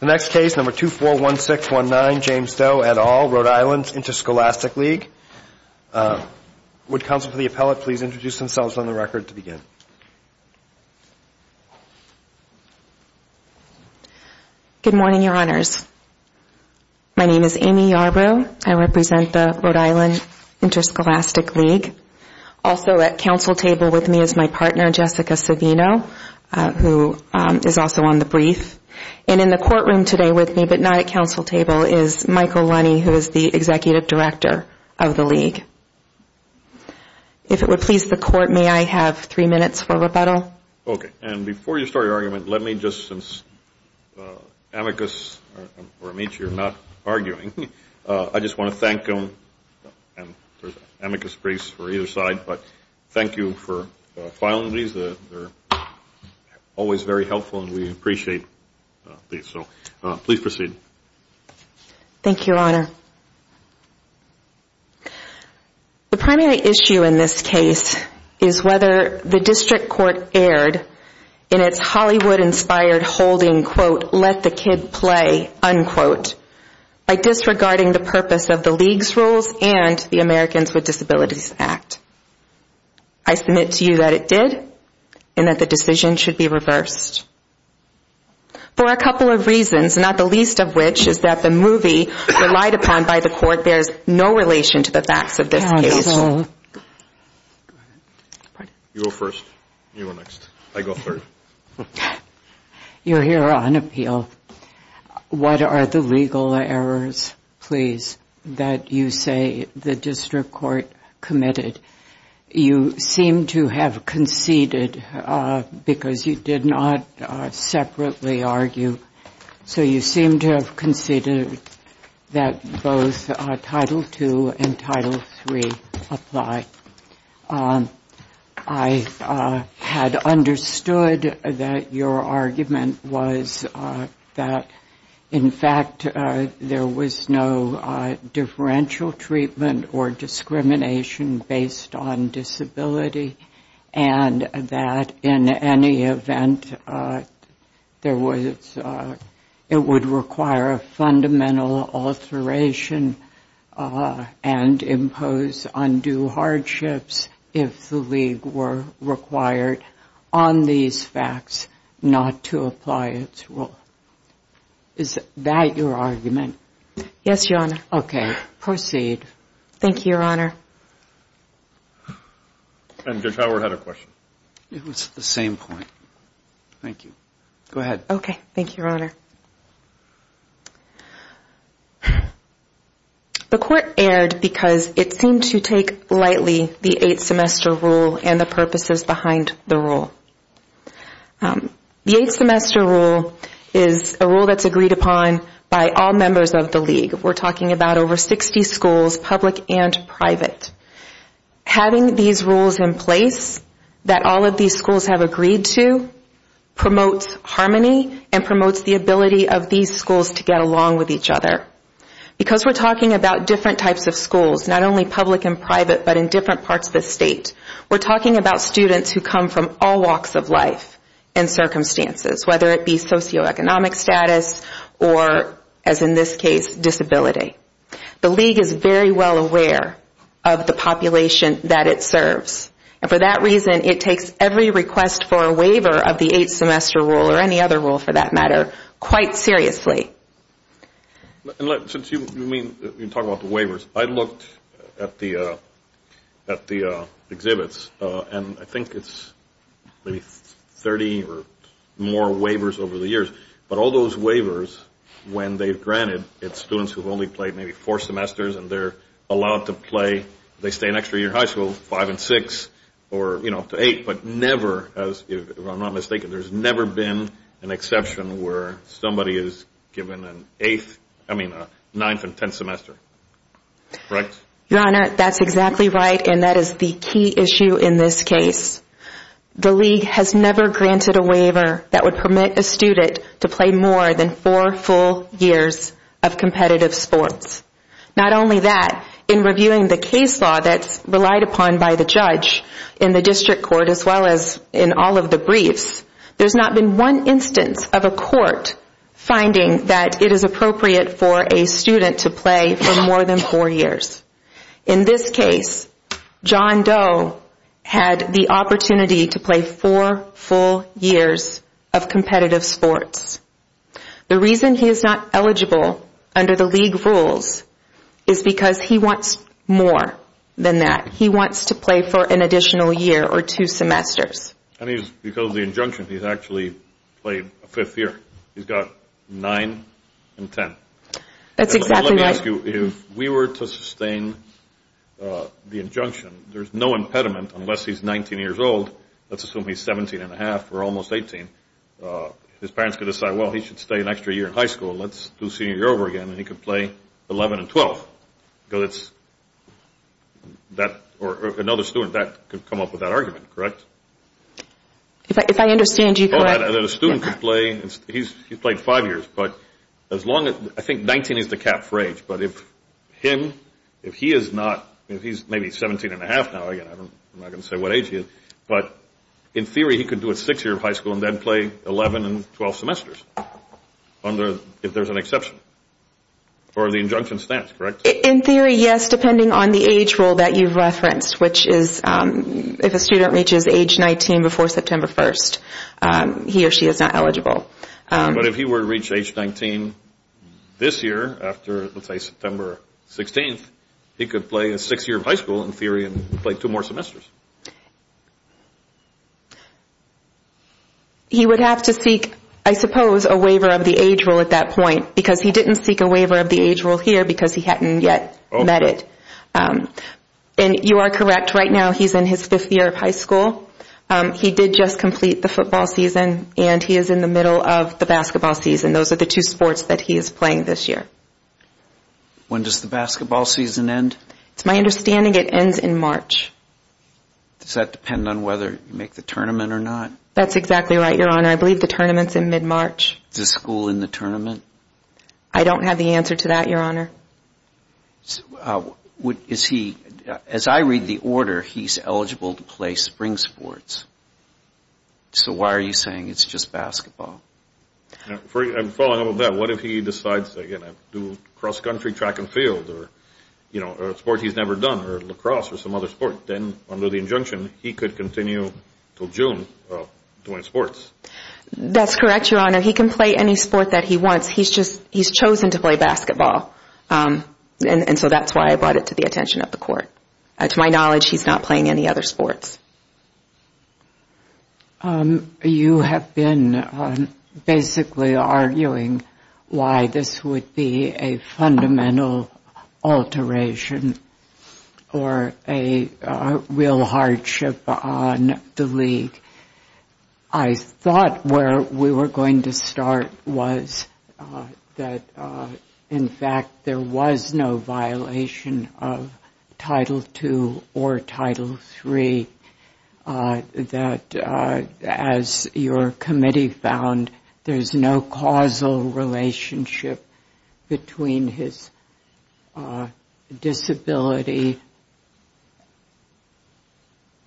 The next case, No. 241619, James Doe et al., Rhode Island Interscholastic League. Would counsel for the appellate please introduce themselves on the record to begin? Good morning, Your Honors. My name is Amy Yarbrough. I represent the Rhode Island Interscholastic League. Also at counsel table with me is my partner, Jessica Savino, who is also on the brief. And in the courtroom today with me, but not at counsel table, is Michael Lunney, who is the executive director of the league. If it would please the court, may I have three minutes for rebuttal? Okay. And before you start your argument, let me just, since amicus or amici are not arguing, I just want to thank them. There's amicus brace for either side. But thank you for filing these. They're always very helpful and we appreciate these. So please proceed. Thank you, Your Honor. The primary issue in this case is whether the district court erred in its Hollywood-inspired holding, quote, let the kid play, unquote, by disregarding the purpose of the league's rules and the Americans with Disabilities Act. I submit to you that it did and that the decision should be reversed. For a couple of reasons, not the least of which is that the movie relied upon by the court bears no relation to the facts of this case. You go first. You go next. I go third. Your Honor, what are the legal errors, please, that you say the district court committed? You seem to have conceded because you did not separately argue. So you seem to have conceded that both Title II and Title III apply. I had understood that your argument was that, in fact, there was no differential treatment or discrimination based on disability and that in any event it would require a fundamental alteration and impose undue hardships if the league were required on these facts not to apply its rule. Is that your argument? Yes, Your Honor. Okay. Proceed. Thank you, Your Honor. Judge Howard had a question. It was the same point. Thank you. Go ahead. Okay. Thank you, Your Honor. The court erred because it seemed to take lightly the eight-semester rule and the purposes behind the rule. The eight-semester rule is a rule that's agreed upon by all members of the league. We're talking about over 60 schools, public and private. Having these rules in place that all of these schools have agreed to promotes harmony and promotes the ability of these schools to get along with each other. Because we're talking about different types of schools, not only public and private but in different parts of the state, we're talking about students who come from all walks of life and circumstances, whether it be socioeconomic status or, as in this case, disability. The league is very well aware of the population that it serves. And for that reason, it takes every request for a waiver of the eight-semester rule or any other rule, for that matter, quite seriously. Since you talk about the waivers, I looked at the exhibits, and I think it's maybe 30 or more waivers over the years. But all those waivers, when they're granted, it's students who've only played maybe four semesters and they're allowed to play, they stay an extra year in high school, five and six or, you know, to eight. But never, if I'm not mistaken, there's never been an exception where somebody is given an eighth, I mean a ninth and tenth semester. Your Honor, that's exactly right, and that is the key issue in this case. The league has never granted a waiver that would permit a student to play more than four full years of competitive sports. Not only that, in reviewing the case law that's relied upon by the judge in the district court as well as in all of the briefs, there's not been one instance of a court finding that it is appropriate for a student to play for more than four years. In this case, John Doe had the opportunity to play four full years of competitive sports. The reason he is not eligible under the league rules is because he wants more than that. He wants to play for an additional year or two semesters. And he's, because of the injunction, he's actually played a fifth year. He's got nine and ten. That's exactly right. Let me ask you, if we were to sustain the injunction, there's no impediment unless he's 19 years old. Let's assume he's 17 and a half or almost 18. His parents could decide, well, he should stay an extra year in high school. Let's do senior year over again, and he could play 11 and 12. Or another student could come up with that argument, correct? If I understand you correctly. He's played five years. I think 19 is the cap for age. But if he is not, if he's maybe 17 and a half now, I'm not going to say what age he is, but in theory he could do a six-year high school and then play 11 and 12 semesters if there's an exception or the injunction stands, correct? In theory, yes, depending on the age rule that you've referenced, which is if a student reaches age 19 before September 1st, he or she is not eligible. But if he were to reach age 19 this year after, let's say, September 16th, he could play a six-year high school in theory and play two more semesters. He would have to seek, I suppose, a waiver of the age rule at that point because he didn't seek a waiver of the age rule here because he hadn't yet met it. And you are correct. Right now he's in his fifth year of high school. He did just complete the football season, and he is in the middle of the basketball season. Those are the two sports that he is playing this year. When does the basketball season end? It's my understanding it ends in March. Does that depend on whether you make the tournament or not? That's exactly right, Your Honor. I believe the tournament's in mid-March. Is the school in the tournament? I don't have the answer to that, Your Honor. As I read the order, he's eligible to play spring sports. So why are you saying it's just basketball? Following up on that, what if he decides to do cross-country track and field or a sport he's never done or lacrosse or some other sport? Then under the injunction, he could continue until June doing sports. That's correct, Your Honor. He can play any sport that he wants. He's chosen to play basketball. So that's why I brought it to the attention of the court. To my knowledge, he's not playing any other sports. You have been basically arguing why this would be a fundamental alteration or a real hardship on the league. I thought where we were going to start was that, in fact, there was no violation of Title II or Title III, that as your committee found, there's no causal relationship between his disability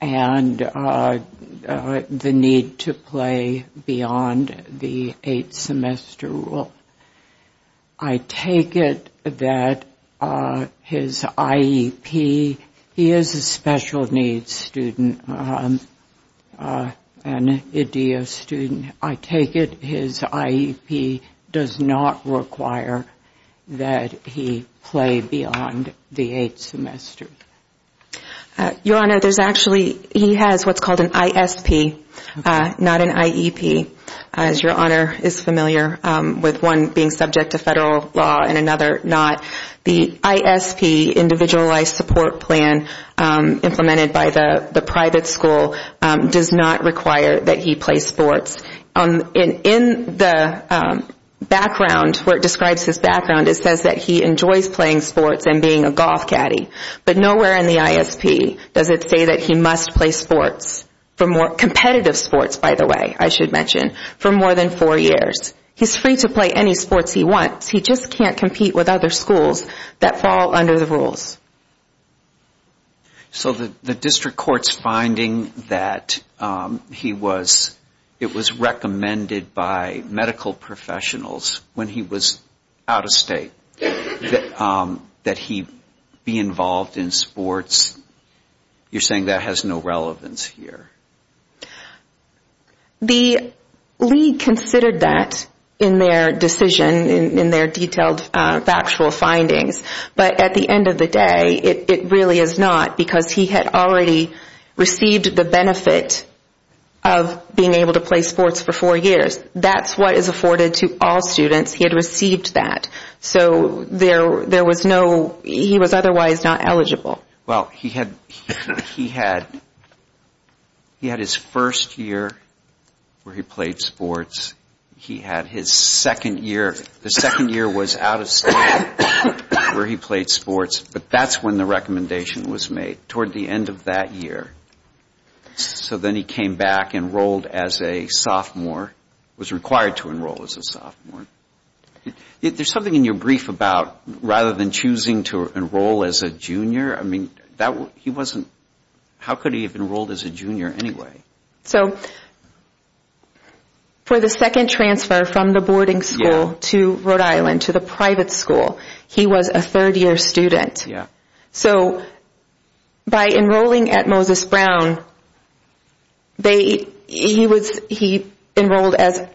and the need to play beyond the eight-semester rule. I take it that his IEP, he is a special needs student, an IDEA student. I take it his IEP does not require that he play beyond the eight-semester. Your Honor, there's actually, he has what's called an ISP, not an IEP, as Your Honor is familiar with one being subject to federal law and another not. The ISP, Individualized Support Plan, implemented by the private school, does not require that he play sports. In the background, where it describes his background, it says that he enjoys playing sports and being a golf caddy. But nowhere in the ISP does it say that he must play sports, competitive sports, by the way, I should mention, for more than four years. He's free to play any sports he wants. He just can't compete with other schools that fall under the rules. So the district court's finding that it was recommended by medical professionals when he was out of state that he be involved in sports, you're saying that has no relevance here? The league considered that in their decision, in their detailed factual findings. But at the end of the day, it really is not, because he had already received the benefit of being able to play sports for four years. That's what is afforded to all students. He had received that. So there was no, he was otherwise not eligible. Well, he had his first year where he played sports. He had his second year. The second year was out of state where he played sports, but that's when the recommendation was made, toward the end of that year. So then he came back, enrolled as a sophomore, was required to enroll as a sophomore. There's something in your brief about rather than choosing to enroll as a junior, I mean, he wasn't, how could he have enrolled as a junior anyway? So for the second transfer from the boarding school to Rhode Island, to the private school, he was a third-year student. So by enrolling at Moses Brown, he enrolled as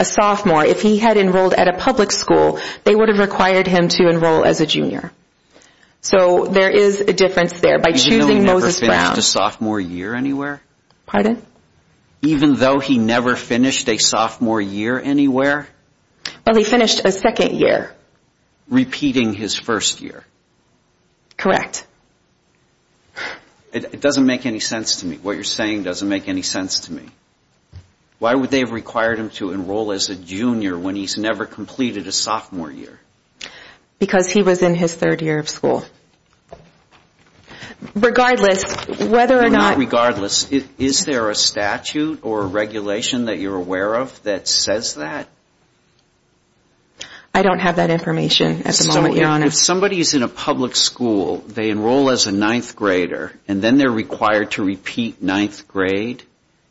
a sophomore. If he had enrolled at a public school, they would have required him to enroll as a junior. So there is a difference there by choosing Moses Brown. He never finished a sophomore year anywhere? Pardon? Even though he never finished a sophomore year anywhere? Well, he finished a second year. Repeating his first year? Correct. It doesn't make any sense to me. What you're saying doesn't make any sense to me. Why would they have required him to enroll as a junior when he's never completed a sophomore year? Because he was in his third year of school. Regardless, whether or not... Regardless, is there a statute or a regulation that you're aware of that says that? I don't have that information at the moment, Your Honor. If somebody is in a public school, they enroll as a ninth grader, and then they're required to repeat ninth grade.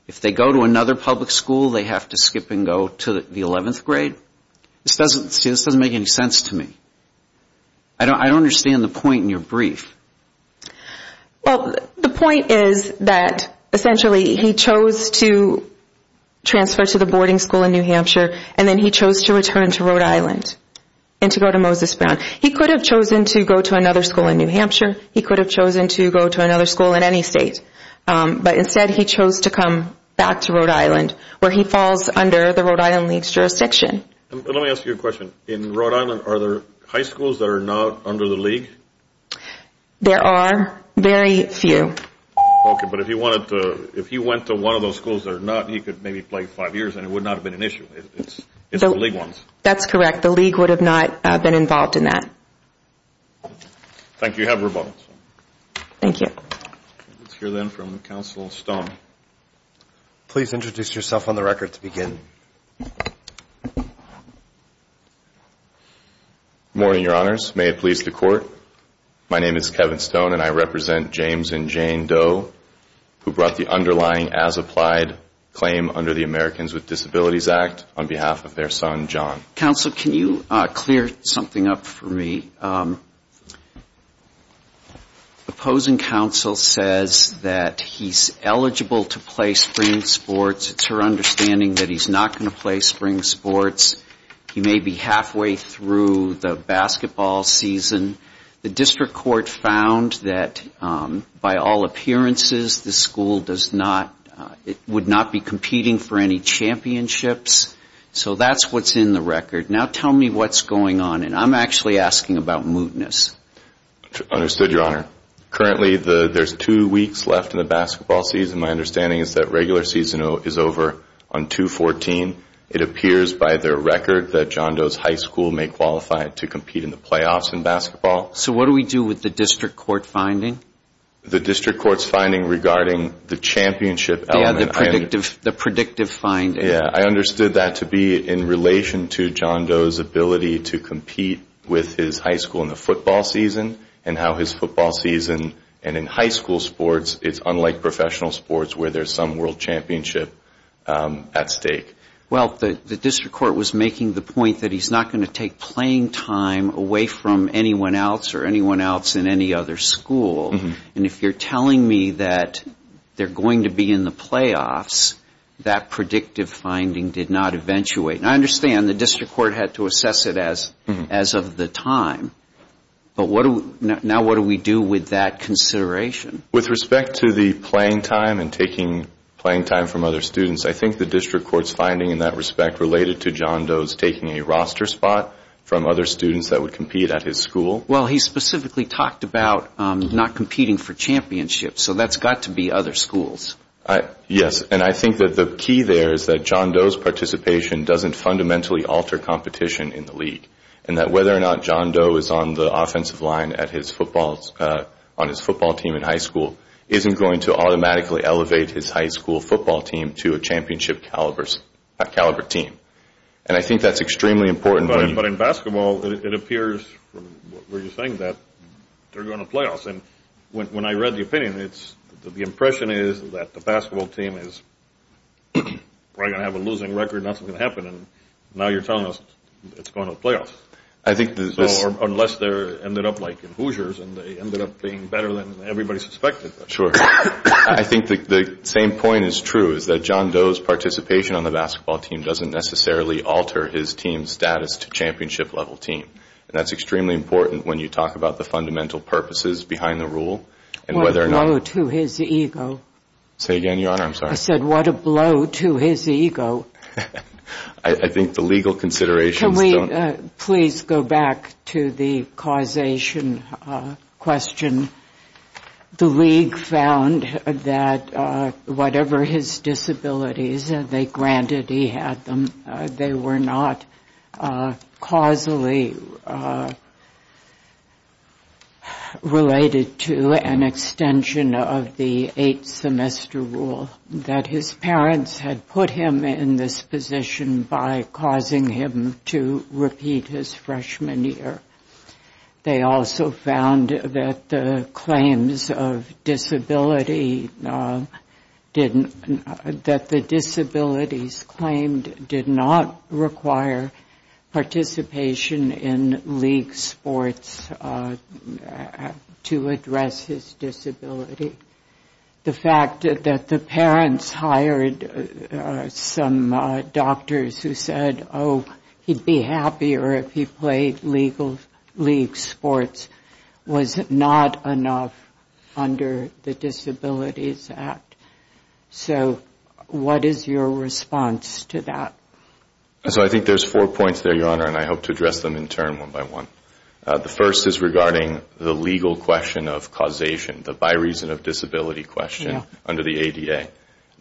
If they go to another public school, they have to skip and go to the 11th grade. See, this doesn't make any sense to me. I don't understand the point in your brief. Well, the point is that, essentially, he chose to transfer to the boarding school in New Hampshire, and then he chose to return to Rhode Island and to go to Moses Brown. He could have chosen to go to another school in New Hampshire. He could have chosen to go to another school in any state. But instead, he chose to come back to Rhode Island, where he falls under the Rhode Island League's jurisdiction. Let me ask you a question. In Rhode Island, are there high schools that are not under the League? There are very few. Okay. But if he went to one of those schools that are not, he could maybe play five years, and it would not have been an issue. It's the League ones. That's correct. The League would have not been involved in that. Thank you. You have rebuttal. Thank you. Let's hear, then, from Counsel Stone. Please introduce yourself on the record to begin. Good morning, Your Honors. May it please the Court. My name is Kevin Stone, and I represent James and Jane Doe, who brought the underlying as-applied claim under the Americans with Disabilities Act on behalf of their son, John. Counsel, can you clear something up for me? Okay. Opposing counsel says that he's eligible to play spring sports. It's her understanding that he's not going to play spring sports. He may be halfway through the basketball season. The district court found that, by all appearances, the school does not, it would not be competing for any championships. So that's what's in the record. Now tell me what's going on. I'm actually asking about mootness. Understood, Your Honor. Currently, there's two weeks left in the basketball season. My understanding is that regular season is over on 2-14. It appears by their record that John Doe's high school may qualify to compete in the playoffs in basketball. So what do we do with the district court finding? The district court's finding regarding the championship element. Yeah, the predictive finding. Yeah, I understood that to be in relation to John Doe's ability to compete with his high school in the football season and how his football season and in high school sports, it's unlike professional sports where there's some world championship at stake. Well, the district court was making the point that he's not going to take playing time away from anyone else or anyone else in any other school. And if you're telling me that they're going to be in the playoffs, that predictive finding did not eventuate. And I understand the district court had to assess it as of the time. But now what do we do with that consideration? With respect to the playing time and taking playing time from other students, I think the district court's finding in that respect related to John Doe's taking a roster spot from other students that would compete at his school. Well, he specifically talked about not competing for championships. So that's got to be other schools. And I think that the key there is that John Doe's participation doesn't fundamentally alter competition in the league and that whether or not John Doe is on the offensive line on his football team in high school isn't going to automatically elevate his high school football team to a championship caliber team. And I think that's extremely important. But in basketball, it appears from what you're saying that they're going to the playoffs. And when I read the opinion, the impression is that the basketball team is probably going to have a losing record. Nothing's going to happen. And now you're telling us it's going to the playoffs. Unless they ended up like the Hoosiers and they ended up being better than everybody suspected. Sure. I think the same point is true, is that John Doe's participation on the basketball team doesn't necessarily alter his team's status to championship level team. And that's extremely important when you talk about the fundamental purposes behind the rule and whether or not... What a blow to his ego. Say again, Your Honor. I'm sorry. I said what a blow to his ego. I think the legal considerations don't... Can we please go back to the causation question? The league found that whatever his disabilities, they granted he had them. They were not causally related to an extension of the eight-semester rule. That his parents had put him in this position by causing him to repeat his freshman year. They also found that the claims of disability didn't... That the disabilities claimed did not require participation in league sports to address his disability. The fact that the parents hired some doctors who said, oh, he'd be happier if he played league sports was not enough under the Disabilities Act. So what is your response to that? So I think there's four points there, Your Honor, and I hope to address them in turn one by one. The first is regarding the legal question of causation, the by reason of disability question under the ADA.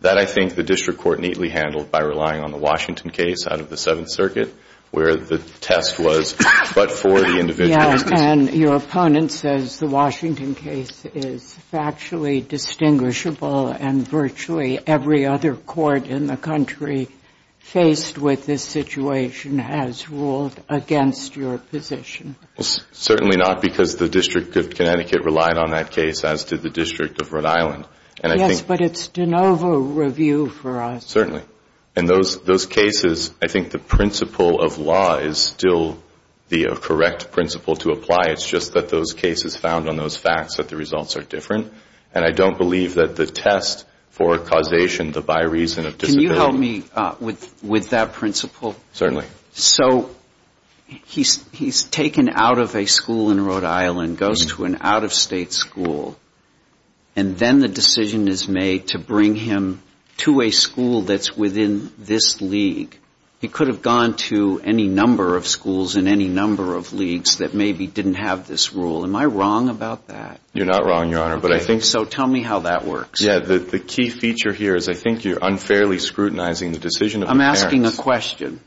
That I think the district court neatly handled by relying on the Washington case out of the Seventh Circuit, where the test was but for the individual... Yes, and your opponent says the Washington case is factually distinguishable and virtually every other court in the country faced with this situation has ruled against your position. Certainly not because the District of Connecticut relied on that case as did the District of Rhode Island. Yes, but it's de novo review for us. And those cases, I think the principle of law is still the correct principle to apply. It's just that those cases found on those facts that the results are different, and I don't believe that the test for causation, the by reason of disability... Can you help me with that principle? Certainly. So he's taken out of a school in Rhode Island, goes to an out-of-state school, and then the decision is made to bring him to a school that's within this league. He could have gone to any number of schools in any number of leagues that maybe didn't have this rule. Am I wrong about that? You're not wrong, Your Honor. So tell me how that works. The key feature here is I think you're unfairly scrutinizing the decision of the parents. I'm asking a question.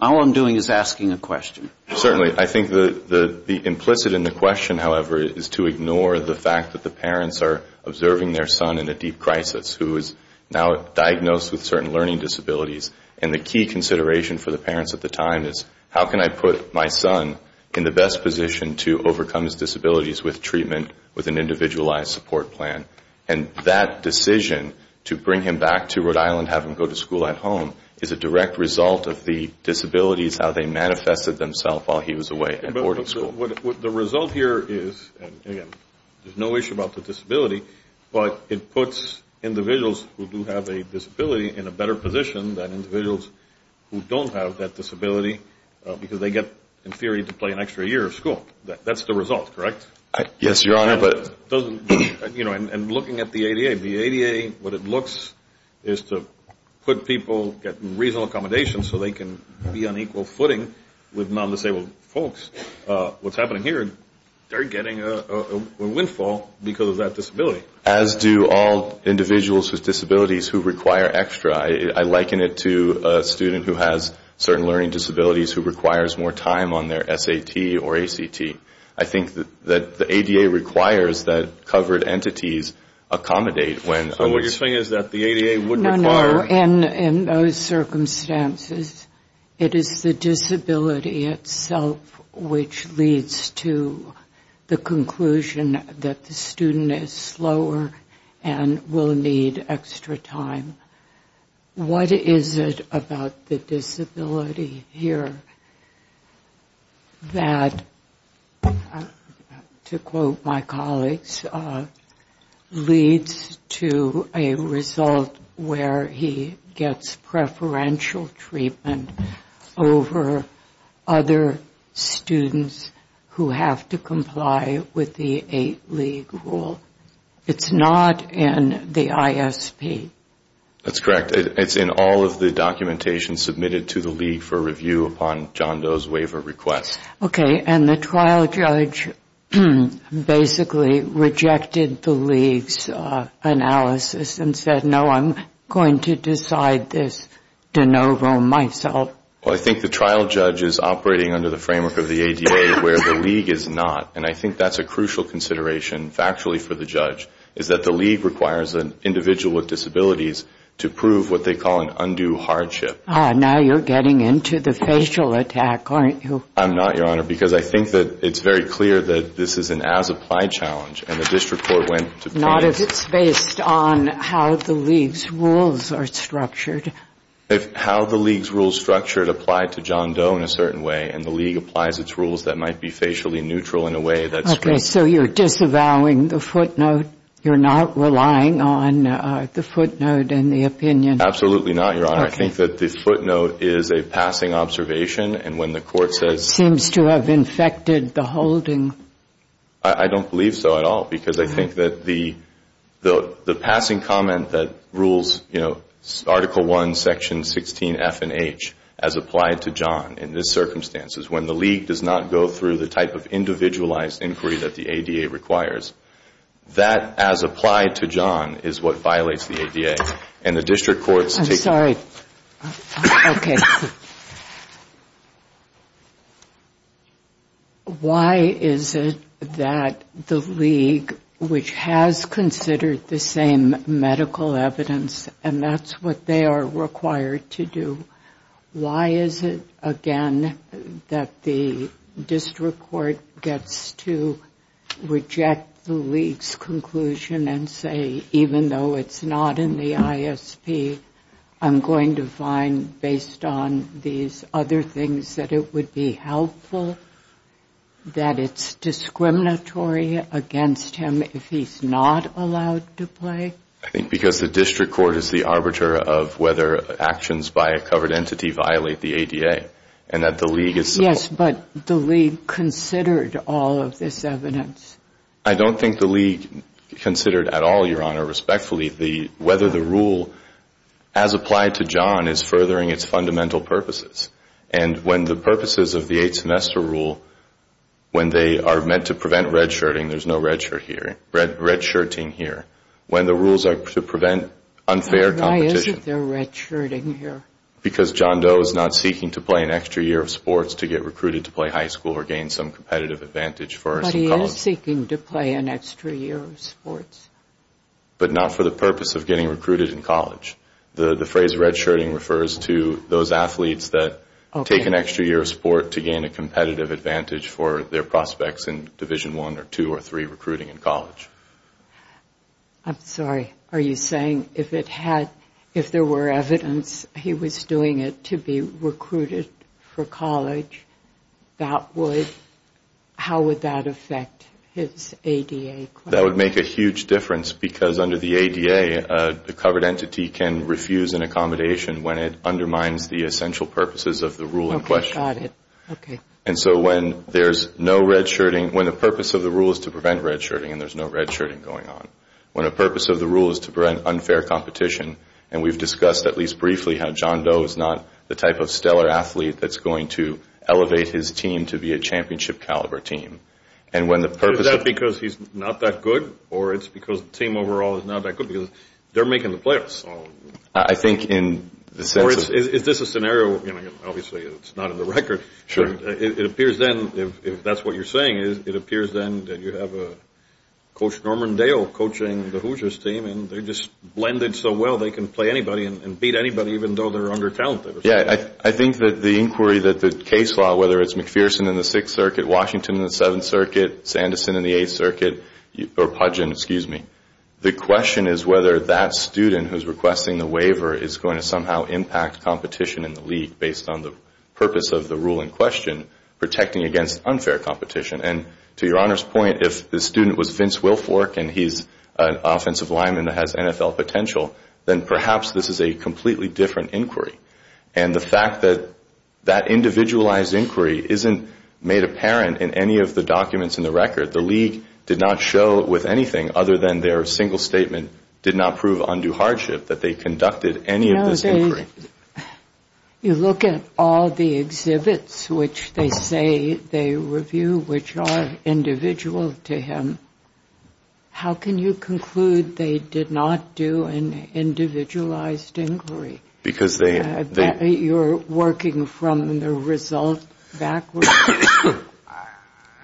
All I'm doing is asking a question. Certainly. I think the implicit in the question, however, is to ignore the fact that the parents are observing their son in a deep crisis who is now diagnosed with certain learning disabilities. And the key consideration for the parents at the time is how can I put my son in the best position to overcome his disabilities with treatment, with an individualized support plan? And that decision to bring him back to Rhode Island, have him go to school at home, is a direct result of the disabilities, how they manifested themselves while he was away at boarding school. The result here is, again, there's no issue about the disability, but it puts individuals who do have a disability in a better position than individuals who don't have that disability because they get, in theory, to play an extra year of school. That's the result, correct? Yes, Your Honor. And looking at the ADA, the ADA, what it looks is to put people, get reasonable accommodation so they can be on equal footing with non-disabled folks. What's happening here, they're getting a windfall because of that disability. As do all individuals with disabilities who require extra. I liken it to a student who has certain learning disabilities who requires more time on their SAT or ACT. I think that the ADA requires that covered entities accommodate when... So what you're saying is that the ADA would require... In those circumstances, it is the disability itself which leads to the conclusion that the student is slower and will need extra time. What is it about the disability here that, to quote my colleagues, leads to a result where he gets preferential treatment over other students who have to comply with the eight-league rule? It's not in the ISP. That's correct. It's in all of the documentation submitted to the league for review upon John Doe's waiver request. Okay. And the trial judge basically rejected the league's analysis and said, no, I'm going to decide this de novo myself. Well, I think the trial judge is operating under the framework of the ADA where the league is not. And I think that's a crucial consideration factually for the judge is that the league requires an individual with disabilities to prove what they call an undue hardship. Now you're getting into the facial attack, aren't you? I'm not, Your Honor, because I think that it's very clear that this is an as-applied challenge, and the district court went to... Not if it's based on how the league's rules are structured. If how the league's rules are structured apply to John Doe in a certain way and the league applies its rules that might be facially neutral in a way that's... Okay, so you're disavowing the footnote. You're not relying on the footnote and the opinion. Absolutely not, Your Honor. I think that the footnote is a passing observation, and when the court says... Seems to have infected the holding. I don't believe so at all because I think that the passing comment that rules, you know, Article I, Section 16F and H as applied to John in this circumstance is when the league does not go through the type of individualized inquiry that the ADA requires, that as applied to John is what violates the ADA, and the district court's... I'm sorry. Okay. Why is it that the league, which has considered the same medical evidence and that's what they are required to do, why is it, again, that the district court gets to reject the league's conclusion and say, even though it's not in the ISP, I'm going to find, based on these other things, that it would be helpful, that it's discriminatory against him if he's not allowed to play? I think because the district court is the arbiter of whether actions by a covered entity violate the ADA and that the league is... Yes, but the league considered all of this evidence. I don't think the league considered at all, Your Honor, respectfully, whether the rule, as applied to John, is furthering its fundamental purposes. And when the purposes of the eight-semester rule, when they are meant to prevent red-shirting, there's no red-shirting here, when the rules are to prevent unfair competition... Why isn't there red-shirting here? Because John Doe is not seeking to play an extra year of sports to get recruited to play high school or gain some competitive advantage for us. But he is seeking to play an extra year of sports. But not for the purpose of getting recruited in college. The phrase red-shirting refers to those athletes that take an extra year of sport to gain a competitive advantage for their prospects in Division I or II or III recruiting in college. I'm sorry. Are you saying if there were evidence he was doing it to be recruited for college, how would that affect his ADA claim? That would make a huge difference because under the ADA, a covered entity can refuse an accommodation when it undermines the essential purposes of the rule in question. Okay. Got it. Okay. And so when there's no red-shirting, when the purpose of the rule is to prevent red-shirting and there's no red-shirting going on, when the purpose of the rule is to prevent unfair competition, and we've discussed at least briefly how John Doe is not the type of stellar athlete that's going to elevate his team to be a championship-caliber team, Is that because he's not that good, or it's because the team overall is not that good because they're making the playoffs? I think in the sense of… Or is this a scenario, obviously it's not in the record. It appears then, if that's what you're saying, it appears then that you have Coach Norman Dale coaching the Hoosiers team and they're just blended so well they can play anybody and beat anybody even though they're under-talented. I think that the inquiry that the case law, whether it's McPherson in the Sixth Circuit, Washington in the Seventh Circuit, Sanderson in the Eighth Circuit, or Pudgeon, excuse me, the question is whether that student who's requesting the waiver is going to somehow impact competition in the league based on the purpose of the rule in question, protecting against unfair competition. And to your Honor's point, if the student was Vince Wilfork and he's an offensive lineman that has NFL potential, then perhaps this is a completely different inquiry. And the fact that that individualized inquiry isn't made apparent in any of the documents in the record, the league did not show with anything other than their single statement did not prove undue hardship that they conducted any of this inquiry. You look at all the exhibits which they say they review, which are individual to him, how can you conclude they did not do an individualized inquiry? Because they... You're working from the result backwards?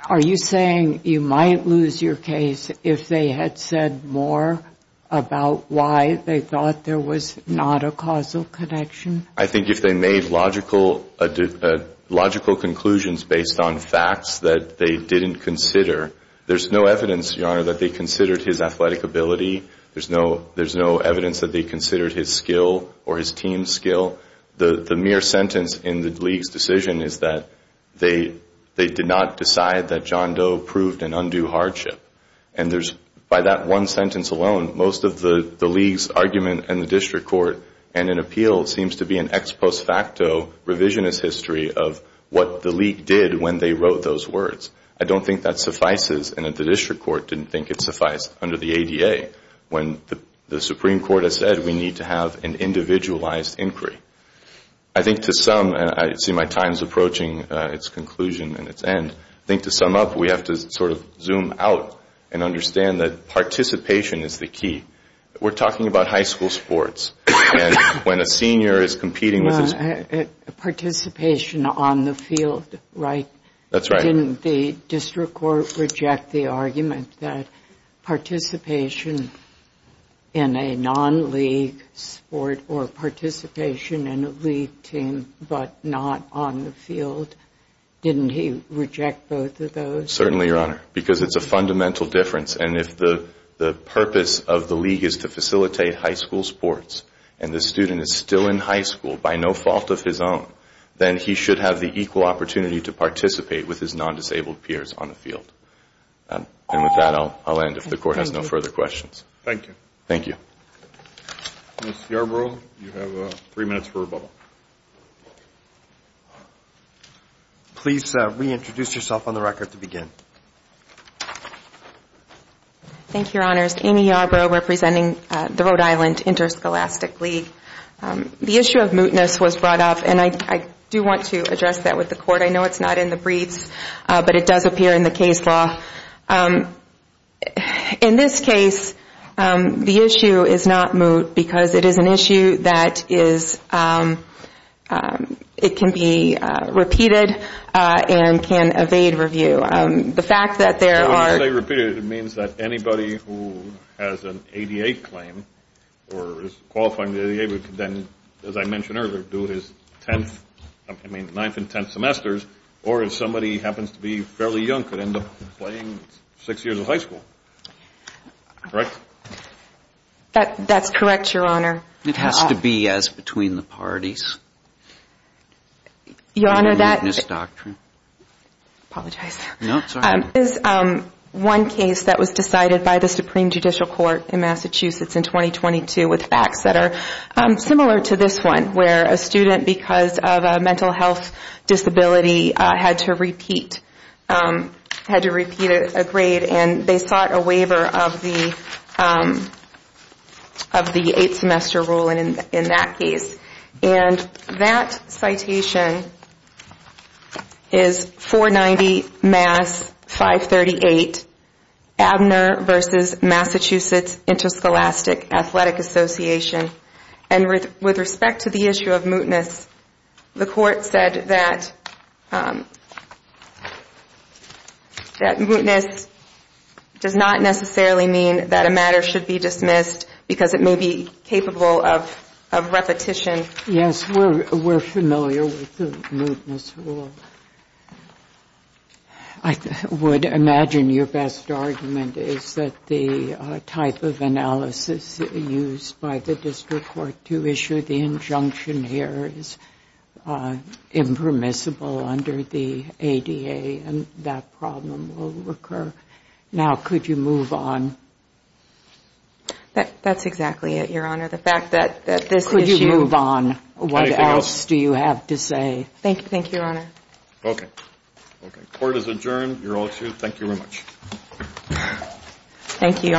Are you saying you might lose your case if they had said more about why they thought there was not a causal connection? I think if they made logical conclusions based on facts that they didn't consider, there's no evidence, Your Honor, that they considered his athletic ability, there's no evidence that they considered his skill or his team's skill. The mere sentence in the league's decision is that they did not decide that John Doe proved an undue hardship. And by that one sentence alone, most of the league's argument in the district court and in appeal seems to be an ex post facto revisionist history of what the league did when they wrote those words. I don't think that suffices, and that the district court didn't think it sufficed under the ADA when the Supreme Court has said we need to have an individualized inquiry. I think to sum, and I see my time is approaching its conclusion and its end, I think to sum up, we have to sort of zoom out and understand that participation is the key. We're talking about high school sports, and when a senior is competing with his... Participation on the field, right? That's right. Didn't the district court reject the argument that participation in a non-league sport or participation in a league team but not on the field, didn't he reject both of those? Certainly, Your Honor, because it's a fundamental difference, and if the purpose of the league is to facilitate high school sports and the student is still in high school by no fault of his own, then he should have the equal opportunity to participate with his non-disabled peers on the field. And with that, I'll end if the court has no further questions. Thank you. Thank you. Ms. Yarbrough, you have three minutes for rebuttal. Please reintroduce yourself on the record to begin. Thank you, Your Honors. Amy Yarbrough representing the Rhode Island Interscholastic League. The issue of mootness was brought up, and I do want to address that with the court. I know it's not in the briefs, but it does appear in the case law. In this case, the issue is not moot because it is an issue that is it can be repeated and can evade review. The fact that there are... When you say repeated, it means that anybody who has an ADA claim or is qualifying for the ADA could then, as I mentioned earlier, do his ninth and tenth semesters, or if somebody happens to be fairly young could end up playing six years of high school. Correct? That's correct, Your Honor. It has to be as between the parties. Your Honor, that... Mootness doctrine. Apologize. No, sorry. This is one case that was decided by the Supreme Judicial Court in Massachusetts in 2022 with facts that are similar to this one, where a student, because of a mental health disability, had to repeat a grade, and they sought a waiver of the eight-semester rule in that case. And that citation is 490 Mass. 538, Abner v. Massachusetts Interscholastic Athletic Association. And with respect to the issue of mootness, the Court said that mootness does not necessarily mean that a matter should be dismissed because it may be capable of repetition. Yes, we're familiar with the mootness rule. I would imagine your best argument is that the type of analysis used by the district court to issue the injunction here is impermissible under the ADA, and that problem will recur. Now, could you move on? That's exactly it, Your Honor. The fact that this issue... Could you move on? Anything else? What else do you have to say? Thank you, Your Honor. Okay. Okay. Court is adjourned. You're all excused. Thank you very much. Thank you, Your Honor.